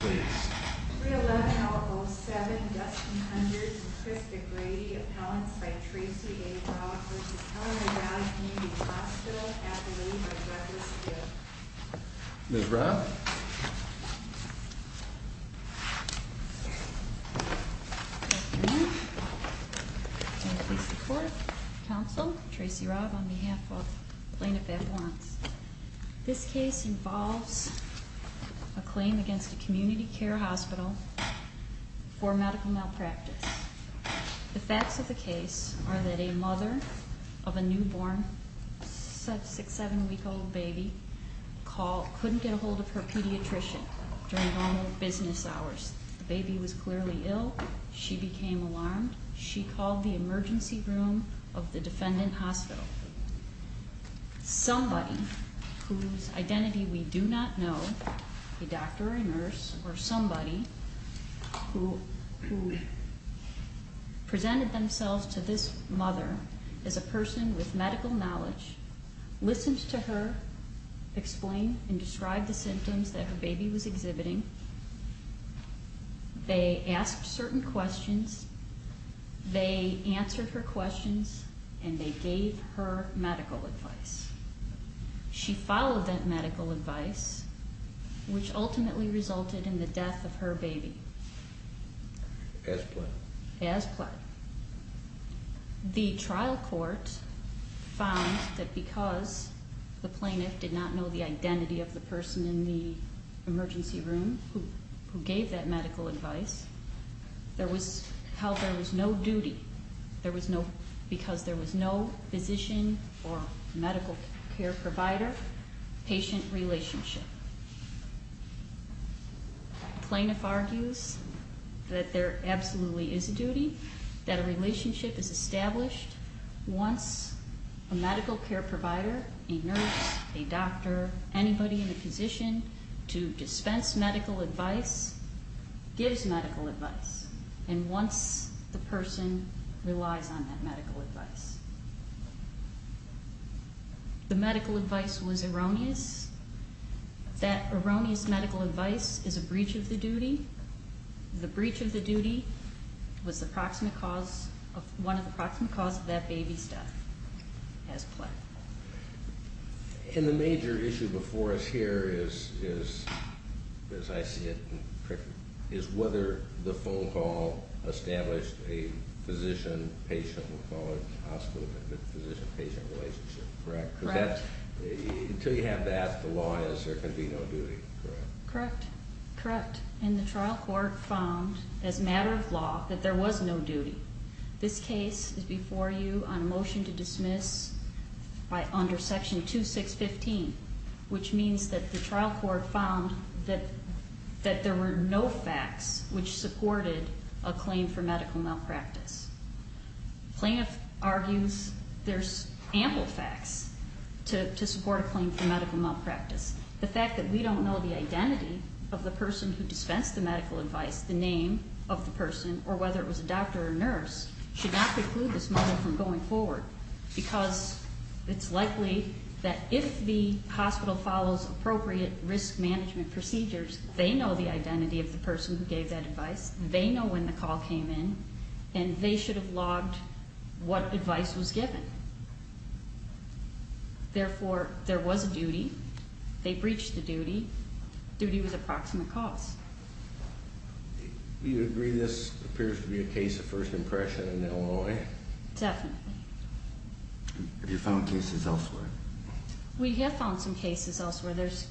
311-007 Dustin Kundert to Chris DeGrady, appellants by Tracy A. Robb v. Kellerman Valley Community Hospital at the Lilley by Douglas Field. Ms. Robb? Thank you. Can I please report? Council, Tracy Robb on behalf of Plaintiff Appellants. This case involves a claim against a community care hospital for medical malpractice. The facts of the case are that a mother of a newborn 6-7 week old baby couldn't get a hold of her pediatrician during normal business hours. The baby was clearly ill. She became alarmed. She called the emergency room of the defendant hospital. Somebody whose identity we do not know, a doctor, a nurse, or somebody who presented themselves to this mother as a person with medical knowledge, listened to her explain and describe the symptoms that her baby was exhibiting. They asked certain questions. They answered her questions, and they gave her medical advice. She followed that medical advice, which ultimately resulted in the death of her baby. As pled? As pled. The trial court found that because the plaintiff did not know the identity of the person in the emergency room who gave that medical advice, there was no duty because there was no physician or medical care provider-patient relationship. The plaintiff argues that there absolutely is a duty, that a relationship is established once a medical care provider, a nurse, a doctor, anybody in a position to dispense medical advice gives medical advice, and once the person relies on that medical advice. The medical advice was erroneous. That erroneous medical advice is a breach of the duty. The breach of the duty was one of the proximate cause of that baby's death. As pled. And the major issue before us here is, as I see it, is whether the phone call established a physician-patient, we'll call it hospital, but physician-patient relationship, correct? Correct. Until you have that, the law is there can be no duty, correct? Correct. Correct. And the trial court found, as a matter of law, that there was no duty. This case is before you on a motion to dismiss under Section 2615, which means that the trial court found that there were no facts which supported a claim for medical malpractice. The plaintiff argues there's ample facts to support a claim for medical malpractice. The fact that we don't know the identity of the person who dispensed the medical advice, the name of the person, or whether it was a doctor or nurse, should not preclude this mother from going forward, because it's likely that if the hospital follows appropriate risk management procedures, they know the identity of the person who gave that advice, they know when the call came in, and they should have logged what advice was given. Therefore, there was a duty. They breached the duty. Duty was approximate cost. Do you agree this appears to be a case of first impression in Illinois? Definitely. Have you found cases elsewhere? We have found some cases elsewhere. There's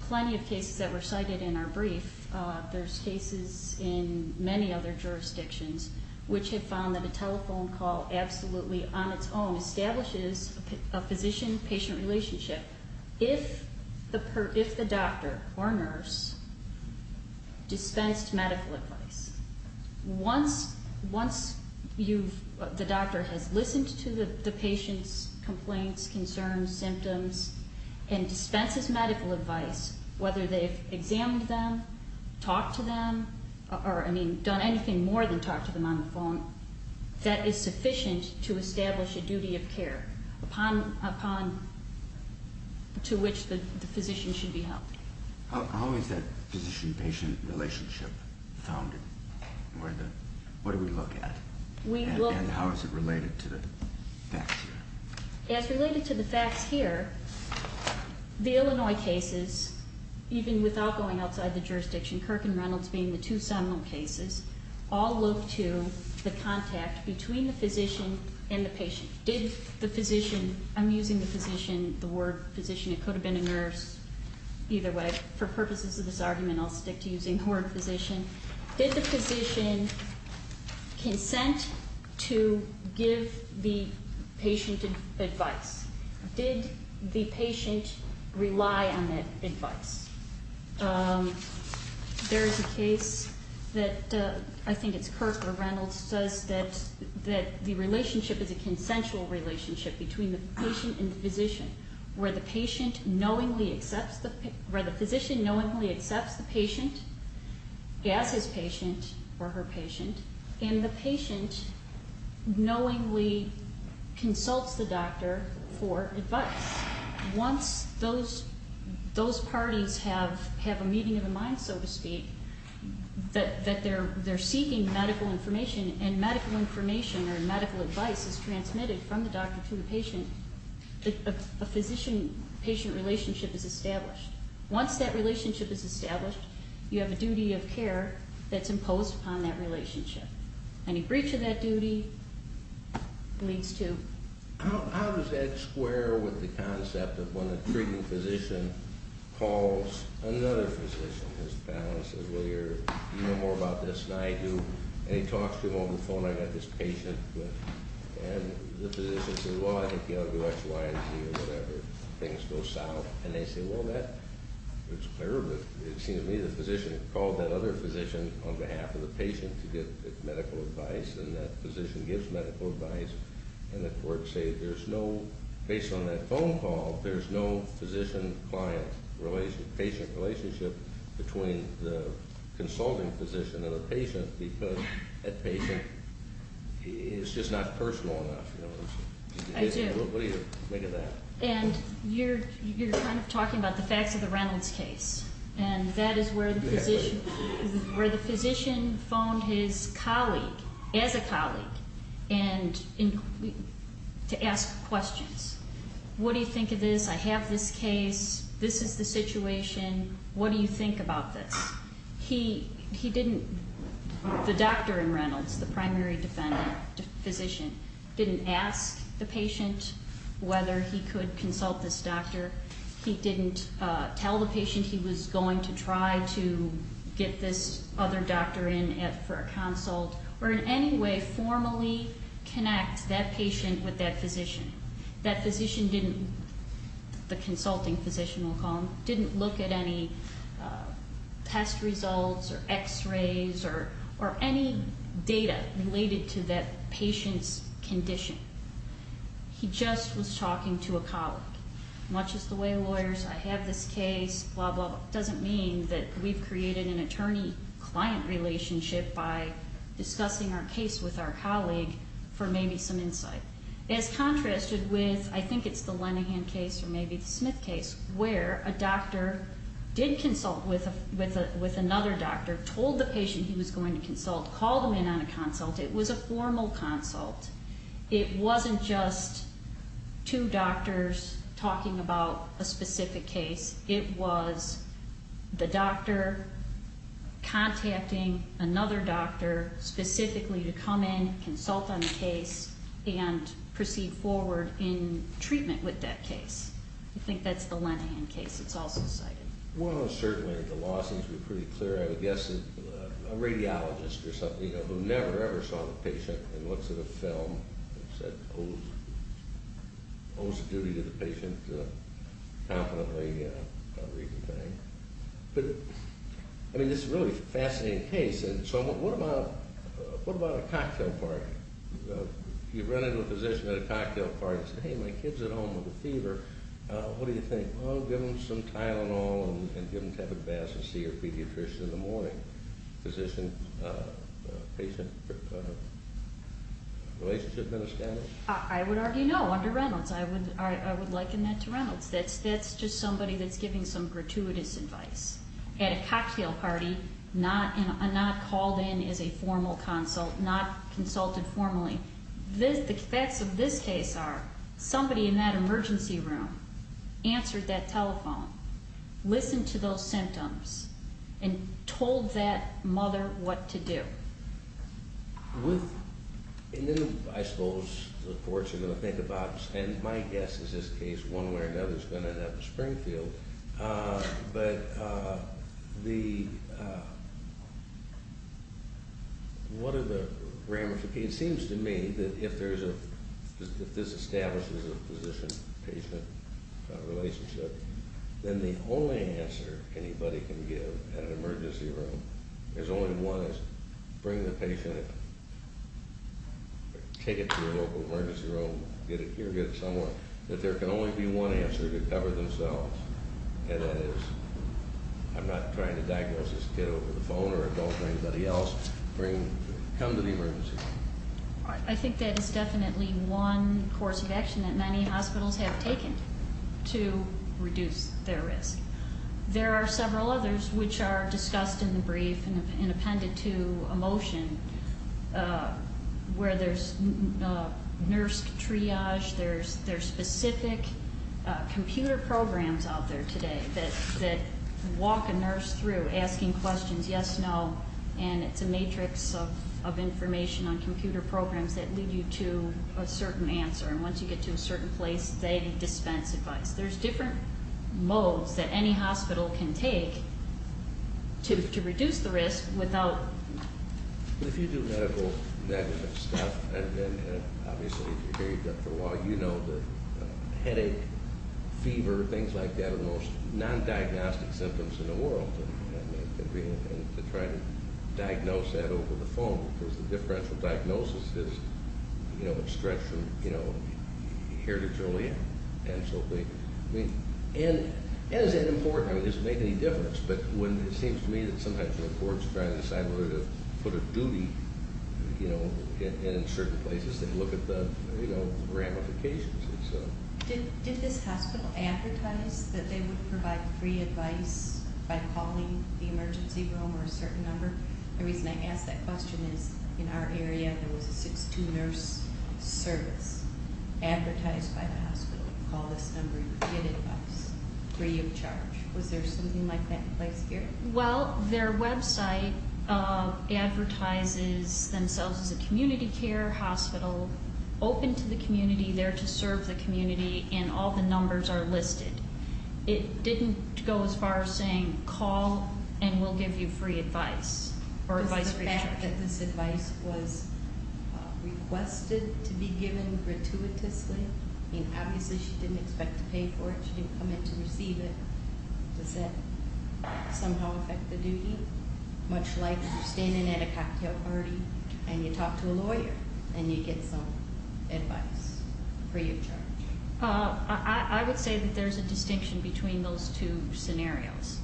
plenty of cases that were cited in our brief. There's cases in many other jurisdictions which have found that a telephone call absolutely on its own establishes a physician-patient relationship if the doctor or nurse dispensed medical advice. Once the doctor has listened to the patient's complaints, concerns, symptoms, and dispenses medical advice, whether they've examined them, talked to them, or, I mean, done anything more than talk to them on the phone, that is sufficient to establish a duty of care to which the physician should be held. How is that physician-patient relationship founded? What do we look at? And how is it related to the facts here? As related to the facts here, the Illinois cases, even without going outside the jurisdiction, Kirk and Reynolds being the two seminal cases, all look to the contact between the physician and the patient. Did the physician, I'm using the physician, the word physician. It could have been a nurse. Either way, for purposes of this argument, I'll stick to using the word physician. Did the physician consent to give the patient advice? Did the patient rely on that advice? There is a case that I think it's Kirk or Reynolds says that the relationship is a consensual relationship between the patient and the physician, where the physician knowingly accepts the patient as his patient or her patient, and the patient knowingly consults the doctor for advice. Once those parties have a meeting of the mind, so to speak, that they're seeking medical information, and medical information or medical advice is transmitted from the doctor to the patient, a physician-patient relationship is established. Once that relationship is established, you have a duty of care that's imposed upon that relationship. Any breach of that duty leads to... How does that square with the concept of when a treating physician calls another physician, and his panelist says, well, you know more about this than I do, and he talks to him on the phone, I've got this patient, and the physician says, well, I think he ought to do X, Y, and Z or whatever, things go south. And they say, well, that looks clear, but it seems to me the physician called that other physician on behalf of the patient to get medical advice, and that physician gives medical advice, and the court says there's no, based on that phone call, there's no physician-client relationship, patient relationship between the consulting physician and the patient because that patient is just not personal enough. I do. What do you think of that? And you're kind of talking about the facts of the Reynolds case, and that is where the physician phoned his colleague, as a colleague, to ask questions. What do you think of this? I have this case. This is the situation. What do you think about this? He didn't, the doctor in Reynolds, the primary defender, physician, didn't ask the patient whether he could consult this doctor. He didn't tell the patient he was going to try to get this other doctor in for a consult or in any way formally connect that patient with that physician. That physician didn't, the consulting physician we'll call him, didn't look at any test results or X-rays or any data related to that patient's condition. He just was talking to a colleague. Much as the way lawyers, I have this case, blah, blah, doesn't mean that we've created an attorney-client relationship by discussing our case with our colleague for maybe some insight. As contrasted with, I think it's the Lenihan case or maybe the Smith case, where a doctor did consult with another doctor, told the patient he was going to consult, called him in on a consult. It was a formal consult. It wasn't just two doctors talking about a specific case. It was the doctor contacting another doctor specifically to come in, consult on the case, and proceed forward in treatment with that case. I think that's the Lenihan case that's also cited. Well, certainly, the law seems to be pretty clear. I would guess that a radiologist or something, you know, who never, ever saw the patient and looks at a film and said, owes a duty to the patient, confidently reconveying. But, I mean, this is a really fascinating case. And so what about a cocktail party? You run into a physician at a cocktail party and say, hey, my kid's at home with a fever. What do you think? Well, give him some Tylenol and give him a cup of baths and see your pediatrician in the morning. Physician-patient relationship been established? I would argue no under Reynolds. I would liken that to Reynolds. That's just somebody that's giving some gratuitous advice. At a cocktail party, not called in as a formal consult, not consulted formally. The facts of this case are somebody in that emergency room answered that telephone, listened to those symptoms, and told that mother what to do. And then, I suppose, the courts are going to think about, and my guess is this case, one way or another, is going to have a Springfield. But the, what are the ramifications? It seems to me that if there's a, if this establishes a physician-patient relationship, then the only answer anybody can give in an emergency room, there's only one, is bring the patient, take it to your local emergency room, get it here, get it somewhere, that there can only be one answer to cover themselves. And that is, I'm not trying to diagnose this kid over the phone or adult or anybody else. Bring, come to the emergency room. I think that is definitely one course of action that many hospitals have taken to reduce their risk. There are several others which are discussed in the brief and appended to a motion where there's nurse triage, there's specific computer programs out there today that walk a nurse through asking questions, yes, no, and it's a matrix of information on computer programs that lead you to a certain answer. And once you get to a certain place, they dispense advice. There's different modes that any hospital can take to reduce the risk without. If you do medical stuff, and obviously if you're here for a while, you know that headache, fever, things like that are the most non-diagnostic symptoms in the world. And to try to diagnose that over the phone because the differential diagnosis is, you know, a stretch from, you know, here to Joliet. And so they, I mean, and is that important? Does it make any difference? But when it seems to me that sometimes the courts try to decide where to put a duty, you know, and in certain places they look at the, you know, ramifications. Did this hospital advertise that they would provide free advice by calling the emergency room or a certain number? The reason I ask that question is in our area there was a 6-2 nurse service advertised by the hospital. Call this number, you'll get advice free of charge. Was there something like that in place here? Well, their website advertises themselves as a community care hospital, open to the community, there to serve the community, and all the numbers are listed. It didn't go as far as saying call and we'll give you free advice or advice free of charge. Was the fact that this advice was requested to be given gratuitously? I mean, obviously she didn't expect to pay for it. She didn't come in to receive it. Does that somehow affect the duty? Much like you're standing at a cocktail party and you talk to a lawyer and you get some advice free of charge. I would say that there's a distinction between those two scenarios.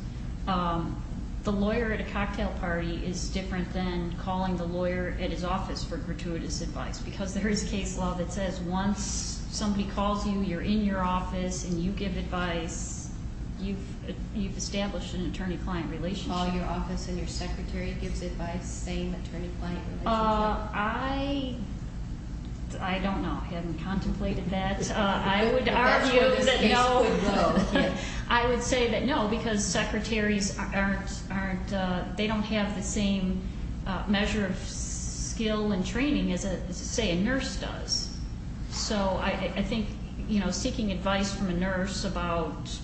The lawyer at a cocktail party is different than calling the lawyer at his office for gratuitous advice because there is a case law that says once somebody calls you, you're in your office, and you give advice, you've established an attorney-client relationship. Call your office and your secretary gives advice, same attorney-client relationship? I don't know. I haven't contemplated that. That's where this case would go. I would say that, no, because secretaries don't have the same measure of skill and training as, say, a nurse does. So I think seeking advice from a nurse about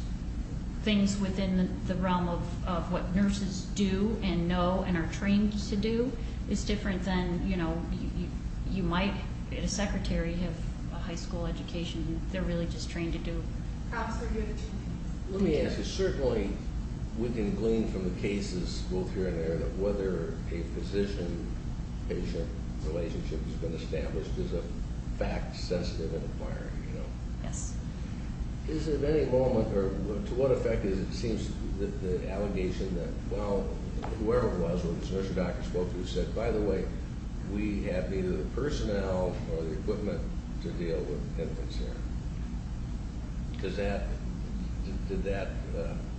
things within the realm of what nurses do and know and are trained to do is different than you might at a secretary have a high school education and they're really just trained to do. Let me ask you, certainly we can glean from the cases, both here and there, that whether a physician-patient relationship has been established is a fact-sensitive inquiry. Yes. Is there any moment, or to what effect is it, it seems that the allegation that, well, whoever it was, a nurse or doctor spoke to said, by the way, we have neither the personnel nor the equipment to deal with infants here. Does that, did that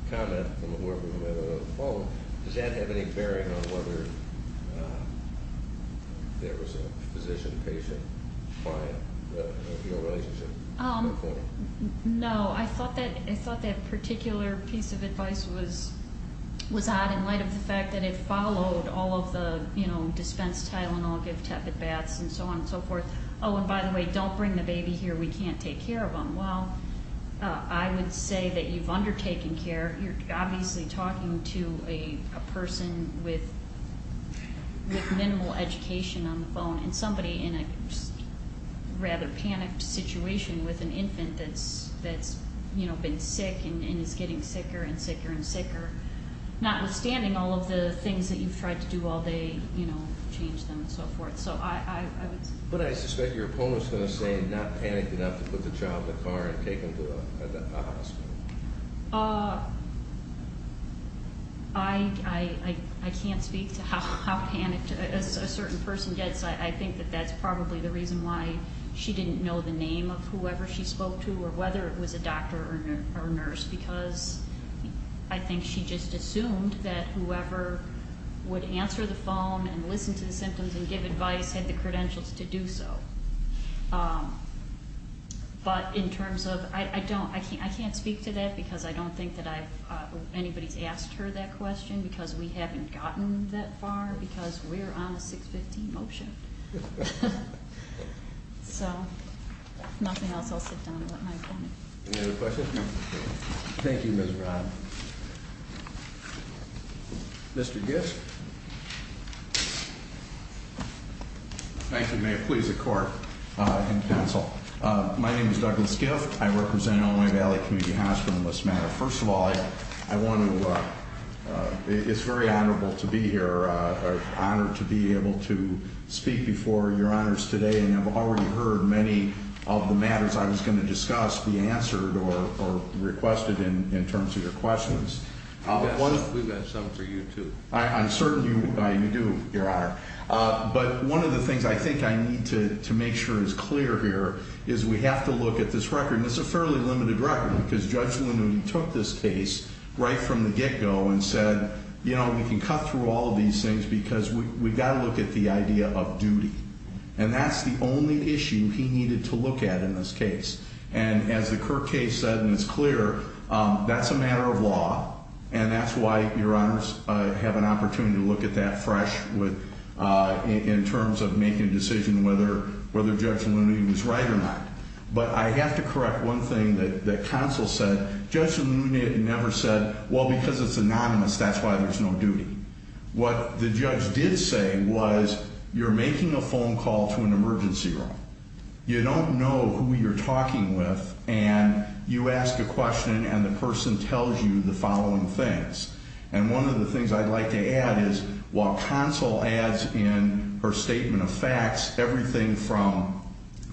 comment from whoever had it on the phone, does that have any bearing on whether there was a physician-patient-client relationship? No. I thought that particular piece of advice was odd in light of the fact that it followed all of the, you know, dispense Tylenol, give tepid baths, and so on and so forth. Oh, and by the way, don't bring the baby here. We can't take care of him. Well, I would say that you've undertaken care. And somebody in a rather panicked situation with an infant that's, you know, been sick and is getting sicker and sicker and sicker, notwithstanding all of the things that you've tried to do all day, you know, change them and so forth. So I would say. But I suspect your opponent's going to say not panicked enough to put the child in the car and take him to a hospital. I can't speak to how panicked a certain person gets. I think that that's probably the reason why she didn't know the name of whoever she spoke to or whether it was a doctor or nurse because I think she just assumed that whoever would answer the phone and listen to the symptoms and give advice had the credentials to do so. But in terms of, I don't, I can't speak to that because I don't think that anybody's asked her that question because we haven't gotten that far because we're on a 615 motion. So if nothing else, I'll sit down and let my opponent. Any other questions? No. Thank you, Ms. Brown. Mr. Gisk. Thank you, Mayor. Please, the court and counsel. My name is Douglas Giff. I represent Illinois Valley Community Hospital in this matter. First of all, I want to, it's very honorable to be here, honored to be able to speak before your honors today and I've already heard many of the matters I was going to discuss be answered or requested in terms of your questions. We've got some for you too. I'm sorry. I'm certain you do, your honor. But one of the things I think I need to make sure is clear here is we have to look at this record and it's a fairly limited record because Judge Lanuti took this case right from the get-go and said, you know, we can cut through all of these things because we've got to look at the idea of duty. And that's the only issue he needed to look at in this case. And as the Kirk case said, and it's clear, that's a matter of law and that's why your honors have an opportunity to look at that fresh in terms of making a decision whether Judge Lanuti was right or not. But I have to correct one thing that counsel said. Judge Lanuti never said, well, because it's anonymous, that's why there's no duty. What the judge did say was you're making a phone call to an emergency room. You don't know who you're talking with and you ask a question and the person tells you the following things. And one of the things I'd like to add is while counsel adds in her statement of facts, everything from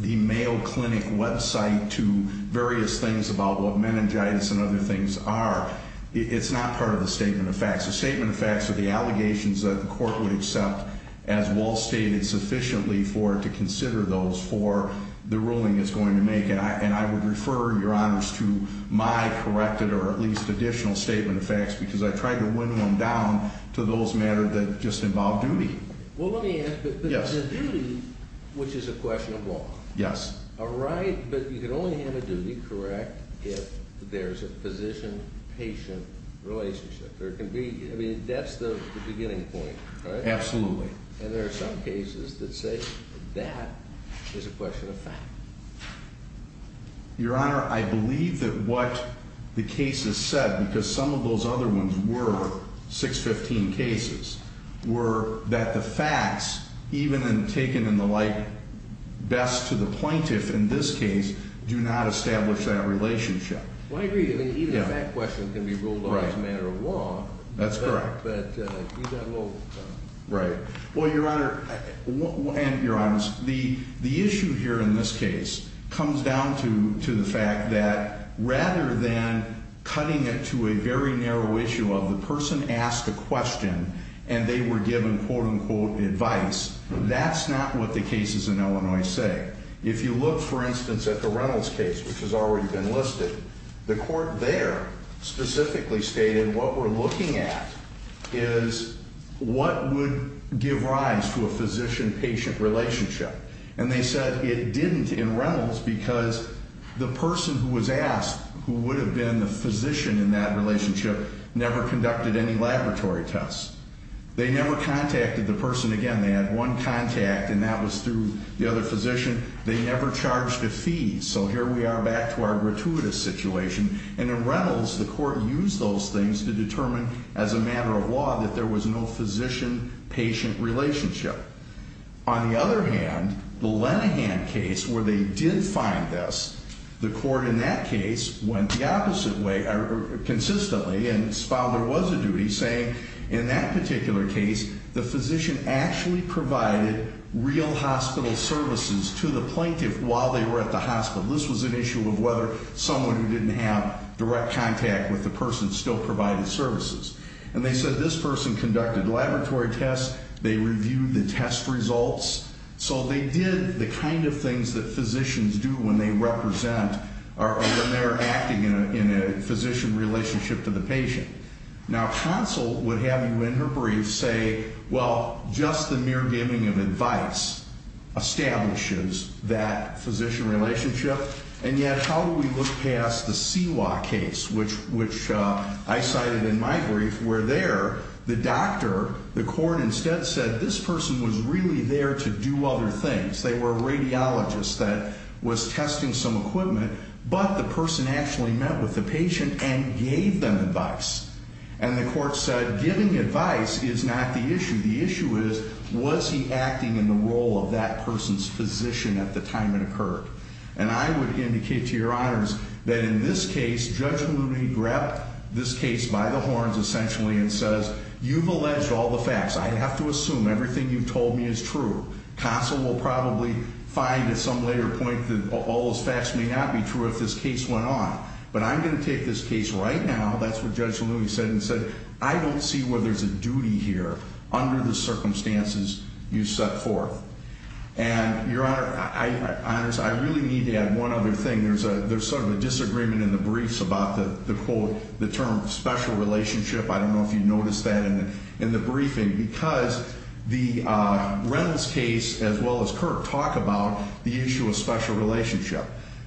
the Mayo Clinic website to various things about what meningitis and other things are, it's not part of the statement of facts. The statement of facts are the allegations that the court would accept, as Wall stated, sufficiently for it to consider those for the ruling it's going to make. And I would refer your honors to my corrected or at least additional statement of facts because I try to wind them down to those matters that just involve duty. Well, let me ask, but the duty, which is a question of law. Yes. A right, but you can only have a duty correct if there's a physician-patient relationship. I mean, that's the beginning point, right? Absolutely. And there are some cases that say that is a question of fact. Your Honor, I believe that what the case has said, because some of those other ones were 615 cases, were that the facts, even taken in the light best to the plaintiff in this case, do not establish that relationship. Well, I agree that even a fact question can be ruled on as a matter of law. That's correct. But you've got a little... Right. Well, Your Honor, and your honors, the issue here in this case comes down to the fact that rather than cutting it to a very narrow issue of the person asked a question and they were given, quote, unquote, advice, that's not what the cases in Illinois say. If you look, for instance, at the Reynolds case, which has already been listed, the court there specifically stated what we're looking at is what would give rise to a physician-patient relationship. And they said it didn't in Reynolds because the person who was asked, who would have been the physician in that relationship, never conducted any laboratory tests. They never contacted the person again. They had one contact, and that was through the other physician. They never charged a fee. So here we are back to our gratuitous situation. And in Reynolds, the court used those things to determine as a matter of law that there was no physician-patient relationship. On the other hand, the Lenahan case, where they did find this, the court in that case went the opposite way consistently, and found there was a duty saying in that particular case the physician actually provided real hospital services to the plaintiff while they were at the hospital. This was an issue of whether someone who didn't have direct contact with the person still provided services. And they said this person conducted laboratory tests. They reviewed the test results. So they did the kind of things that physicians do when they represent or when they're acting in a physician relationship to the patient. Now, Consell would have you in her brief say, well, just the mere giving of advice establishes that physician relationship, and yet how do we look past the Siwa case, which I cited in my brief, where there the doctor, the court instead said this person was really there to do other things. They were a radiologist that was testing some equipment, but the person actually met with the patient and gave them advice. And the court said giving advice is not the issue. The issue is was he acting in the role of that person's physician at the time it occurred. And I would indicate to your honors that in this case, Judge Looney grabbed this case by the horns, essentially, and says you've alleged all the facts. I have to assume everything you've told me is true. Consell will probably find at some later point that all those facts may not be true if this case went on. But I'm going to take this case right now, that's what Judge Looney said, and said I don't see where there's a duty here under the circumstances you set forth. And your honors, I really need to add one other thing. There's sort of a disagreement in the briefs about the quote, the term special relationship. I don't know if you noticed that in the briefing. Because the Reynolds case, as well as Kirk, talk about the issue of special relationship.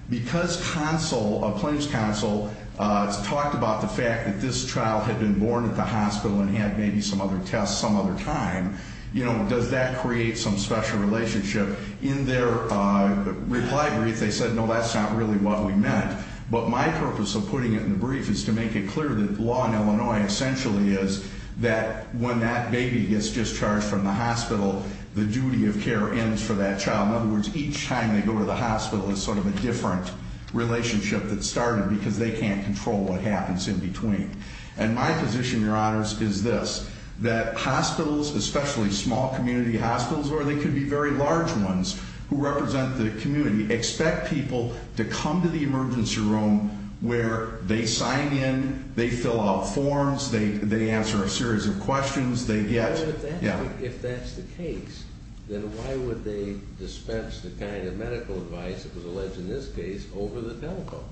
Because Consell, a claims counsel, talked about the fact that this child had been born at the hospital and had maybe some other tests some other time, you know, does that create some special relationship? In their reply brief, they said, no, that's not really what we meant. But my purpose of putting it in the brief is to make it clear that the law in Illinois essentially is that when that baby gets discharged from the hospital, the duty of care ends for that child. In other words, each time they go to the hospital is sort of a different relationship that started because they can't control what happens in between. And my position, your honors, is this, that hospitals, especially small community hospitals, or they could be very large ones who represent the community, expect people to come to the emergency room where they sign in, they fill out forms, they answer a series of questions, they get, yeah. If that's the case, then why would they dispense the kind of medical advice that was alleged in this case over the telecom?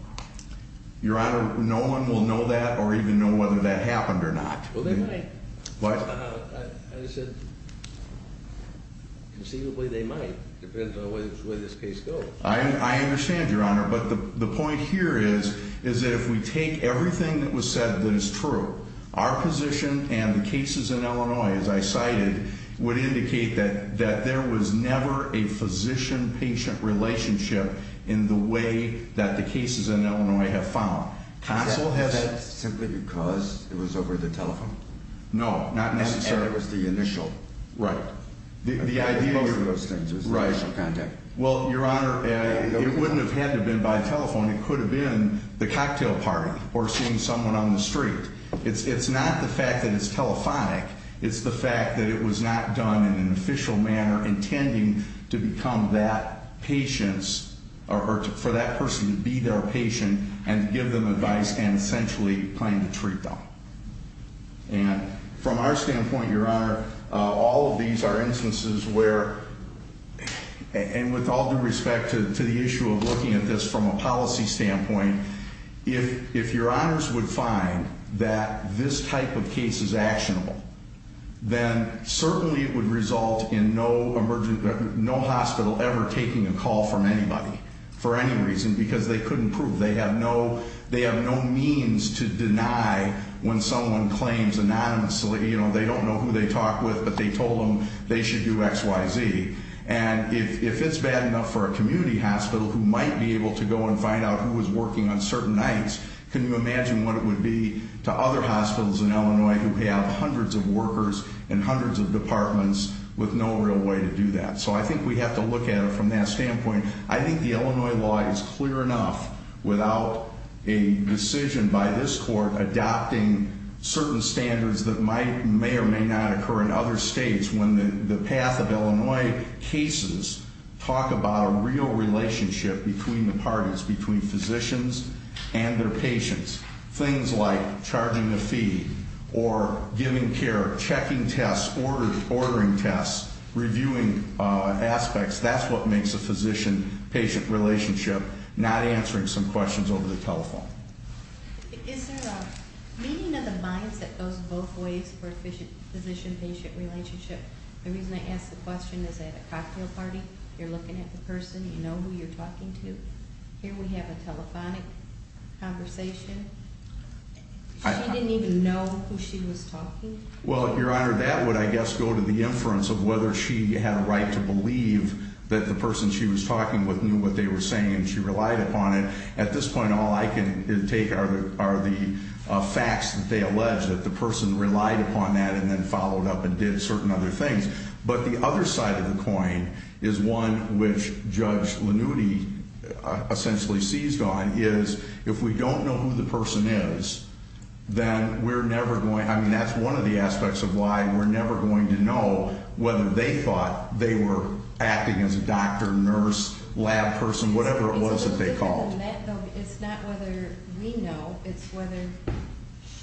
Your honor, no one will know that or even know whether that happened or not. Well, they might. What? I said, conceivably, they might. It depends on where this case goes. I understand, your honor. But the point here is, is that if we take everything that was said that is true, our position and the cases in Illinois, as I cited, would indicate that there was never a physician-patient relationship in the way that the cases in Illinois have found. Is that simply because it was over the telephone? No, not necessarily. And it was the initial. Right. Most of those things was initial contact. Well, your honor, it wouldn't have had to have been by telephone. It could have been the cocktail party or seeing someone on the street. It's not the fact that it's telephonic. It's the fact that it was not done in an official manner intending to become that patient or for that person to be their patient and give them advice and essentially plan to treat them. And from our standpoint, your honor, all of these are instances where, and with all due respect to the issue of looking at this from a policy standpoint, if your honors would find that this type of case is actionable, then certainly it would result in no hospital ever taking a call from anybody for any reason, because they couldn't prove. They have no means to deny when someone claims anonymously. They don't know who they talked with, but they told them they should do X, Y, Z. And if it's bad enough for a community hospital who might be able to go and find out who was working on certain nights, can you imagine what it would be to other hospitals in Illinois who have hundreds of workers and hundreds of departments with no real way to do that? So I think we have to look at it from that standpoint. I think the Illinois law is clear enough without a decision by this court adopting certain standards that may or may not occur in other states when the path of Illinois cases talk about a real relationship between the parties, between physicians and their patients. Things like charging a fee or giving care, checking tests, ordering tests, reviewing aspects. That's what makes a physician-patient relationship, not answering some questions over the telephone. Is there a meeting of the minds that goes both ways for a physician-patient relationship? The reason I ask the question is at a cocktail party, you're looking at the person, you know who you're talking to. Here we have a telephonic conversation. She didn't even know who she was talking to. Well, Your Honor, that would, I guess, go to the inference of whether she had a right to believe that the person she was talking with knew what they were saying and she relied upon it. At this point, all I can take are the facts that they allege that the person relied upon that and then followed up and did certain other things. But the other side of the coin is one which Judge Lanuti essentially seized on, is if we don't know who the person is, then we're never going to, I mean, that's one of the aspects of why we're never going to know whether they thought they were acting as a doctor, nurse, lab person, whatever it was that they called. It's not whether we know, it's whether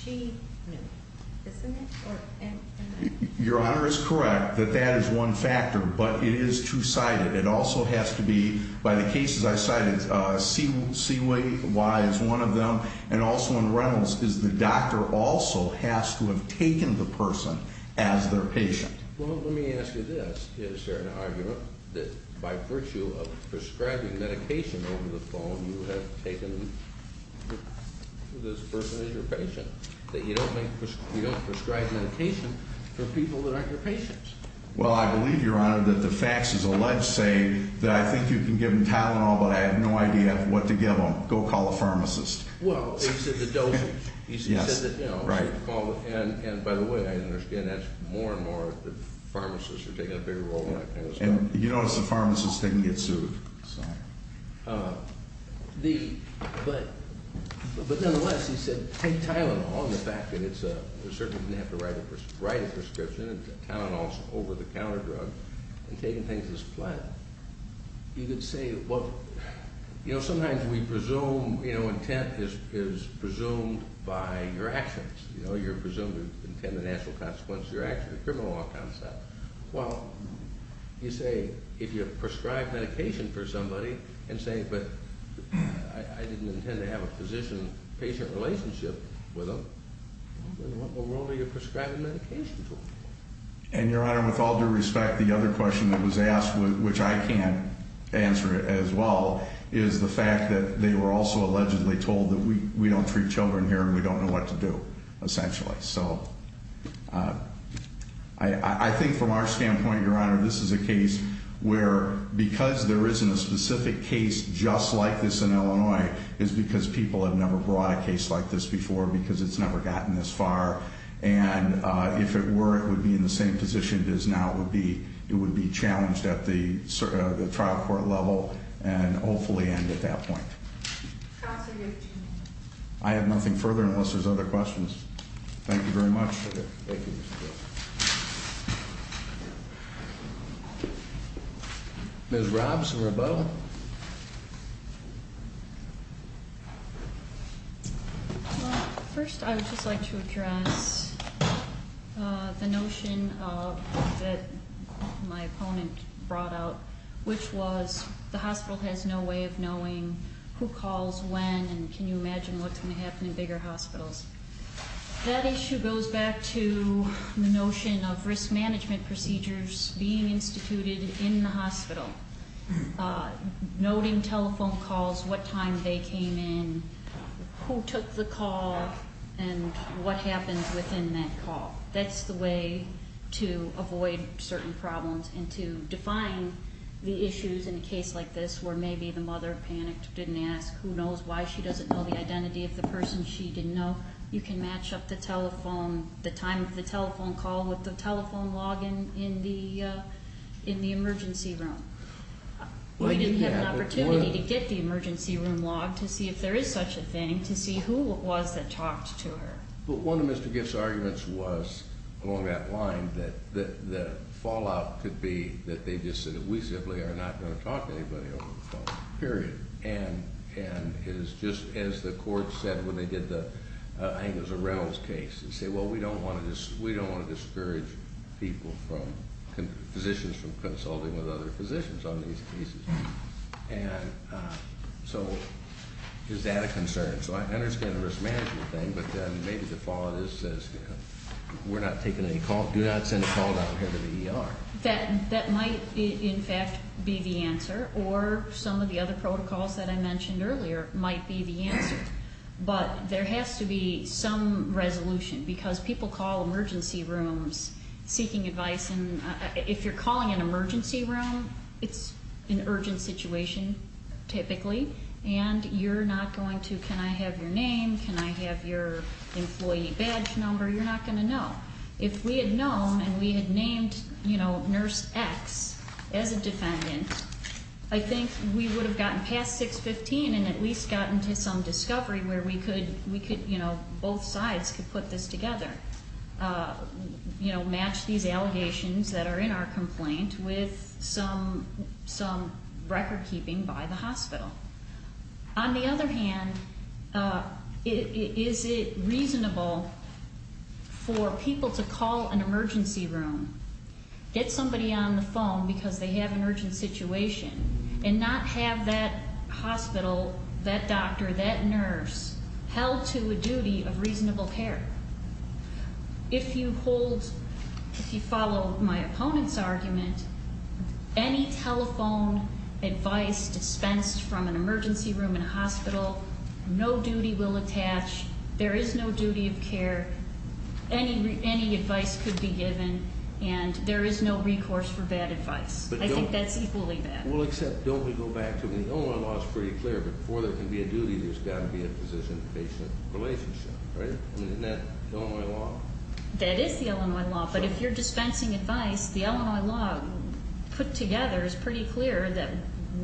she knew. Isn't it? Your Honor is correct that that is one factor, but it is two-sided. It also has to be, by the cases I cited, C-Y is one of them, and also in Reynolds is the doctor also has to have taken the person as their patient. Well, let me ask you this. Is there an argument that by virtue of prescribing medication over the phone, you have taken this person as your patient, that you don't prescribe medication for people that aren't your patients? Well, I believe, Your Honor, that the facts as alleged say that I think you can give them Tylenol, but I have no idea what to give them. Go call a pharmacist. Well, he said the dosage. He said that, you know. Right. And by the way, I understand that more and more that pharmacists are taking a bigger role in that case. And you notice the pharmacist didn't get sued. Sorry. But, nonetheless, he said take Tylenol on the fact that it's a certain thing you have to write a prescription, and Tylenol is an over-the-counter drug, and taking things as planned. You could say, well, you know, sometimes we presume, you know, intent is presumed by your actions. You know, you're presumed to intend the natural consequences of your actions, the criminal law concept. Well, you say if you prescribe medication for somebody and say, but I didn't intend to have a physician-patient relationship with them, then what in the world are you prescribing medication to? And, Your Honor, with all due respect, the other question that was asked, which I can't answer as well, is the fact that they were also allegedly told that we don't treat children here and we don't know what to do, essentially. So I think from our standpoint, Your Honor, this is a case where, because there isn't a specific case just like this in Illinois, it's because people have never brought a case like this before because it's never gotten this far. And if it were, it would be in the same position it is now. It would be challenged at the trial court level and hopefully end at that point. Counsel, you have two minutes. I have nothing further unless there's other questions. Thank you very much. Thank you. Ms. Robbs or Rebelle? Well, first I would just like to address the notion that my opponent brought up, which was the hospital has no way of knowing who calls when and can you imagine what's going to happen in bigger hospitals. That issue goes back to the notion of risk management procedures being instituted in the hospital, noting telephone calls, what time they came in, who took the call, and what happened within that call. That's the way to avoid certain problems and to define the issues in a case like this where maybe the mother panicked, didn't ask, who knows why she doesn't know the identity of the person she didn't know. You can match up the telephone, the time of the telephone call with the telephone log in the emergency room. We didn't have an opportunity to get the emergency room log to see if there is such a thing, to see who it was that talked to her. But one of Mr. Giff's arguments was along that line that the fallout could be that they just said, we simply are not going to talk to anybody over the phone, period. And it is just as the court said when they did the Angus or Reynolds case and say, well, we don't want to discourage people from, physicians from consulting with other physicians on these cases. And so is that a concern? So I understand the risk management thing, but then maybe the fallout is we're not taking any calls. Do not send a call out here to the ER. That might, in fact, be the answer. Or some of the other protocols that I mentioned earlier might be the answer. But there has to be some resolution because people call emergency rooms seeking advice. And if you're calling an emergency room, it's an urgent situation typically. And you're not going to, can I have your name? Can I have your employee badge number? You're not going to know. If we had known and we had named Nurse X as a defendant, I think we would have gotten past 615 and at least gotten to some discovery where we could, both sides could put this together, match these allegations that are in our complaint with some record keeping by the hospital. On the other hand, is it reasonable for people to call an emergency room, get somebody on the phone because they have an urgent situation, and not have that hospital, that doctor, that nurse held to a duty of reasonable care? If you hold, if you follow my opponent's argument, any telephone advice dispensed from an emergency room in a hospital, no duty will attach, there is no duty of care, any advice could be given, and there is no recourse for bad advice. I think that's equally bad. Well, except, don't we go back to, the Illinois law is pretty clear, but before there can be a duty, there's got to be a physician-patient relationship, right? Isn't that the Illinois law? That is the Illinois law, but if you're dispensing advice, the Illinois law put together is pretty clear that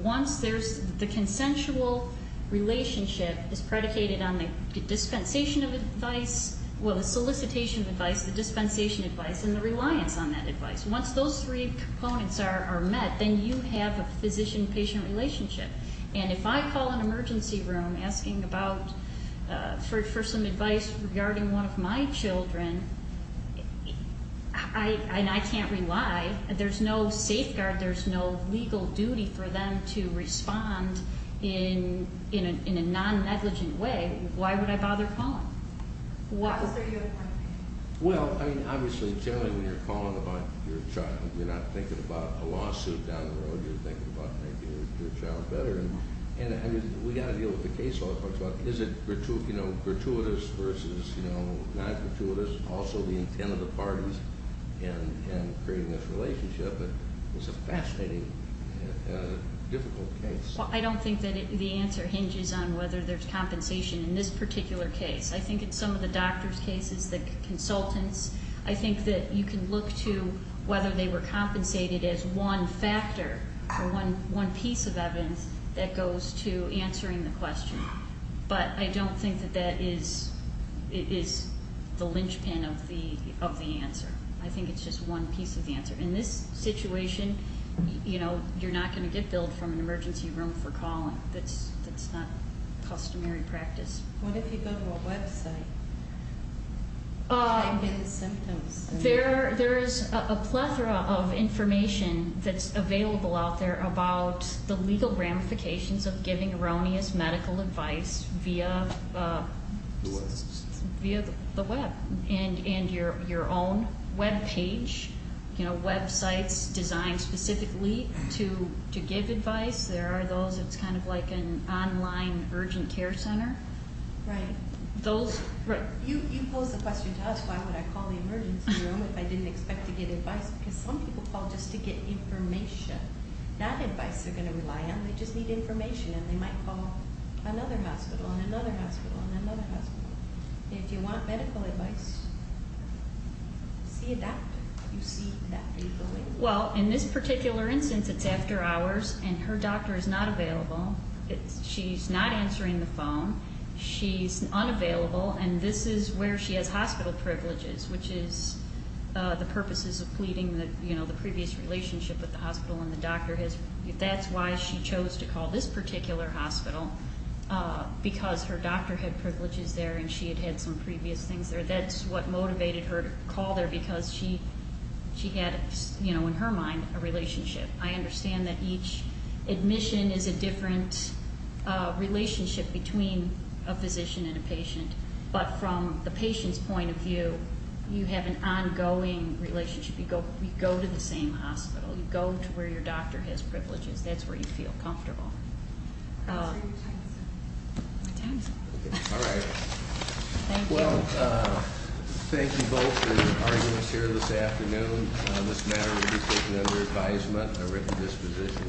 once there's, the consensual relationship is predicated on the dispensation of advice, well, the solicitation of advice, the dispensation of advice, and the reliance on that advice. Once those three components are met, then you have a physician-patient relationship. And if I call an emergency room asking about, for some advice regarding one of my children, and I can't rely, there's no safeguard, there's no legal duty for them to respond in a non-negligent way, why would I bother calling? Is there a unified opinion? Well, I mean, obviously, generally when you're calling about your child, you're not thinking about a lawsuit down the road, you're thinking about making your child better. And, I mean, we've got to deal with the case law first. Is it gratuitous versus non-gratuitous? Also, the intent of the parties in creating this relationship is a fascinating, difficult case. Well, I don't think that the answer hinges on whether there's compensation in this particular case. I think in some of the doctors' cases, the consultants, I think that you can look to whether they were compensated as one factor or one piece of evidence that goes to answering the question. But I don't think that that is the linchpin of the answer. I think it's just one piece of the answer. In this situation, you know, you're not going to get billed from an emergency room for calling. That's not customary practice. What if you go to a website? How do you get the symptoms? There is a plethora of information that's available out there about the legal ramifications of giving erroneous medical advice via the web and your own web page, you know, websites designed specifically to give advice. There are those. It's kind of like an online urgent care center. Right. Those. You posed the question to us, why would I call the emergency room if I didn't expect to get advice? Because some people call just to get information. That advice they're going to rely on. They just need information, and they might call another hospital and another hospital and another hospital. If you want medical advice, see a doctor. You see a doctor, you go in. Well, in this particular instance, it's after hours, and her doctor is not available. She's not answering the phone. She's unavailable, and this is where she has hospital privileges, which is the purposes of pleading the previous relationship with the hospital. That's why she chose to call this particular hospital, because her doctor had privileges there and she had had some previous things there. That's what motivated her to call there because she had, you know, in her mind, a relationship. I understand that each admission is a different relationship between a physician and a patient, but from the patient's point of view, you have an ongoing relationship. You go to the same hospital. You go to where your doctor has privileges. That's where you feel comfortable. My time is up. All right. Thank you. Well, thank you both for joining us here this afternoon. This matter will be taken under advisement and a written disposition.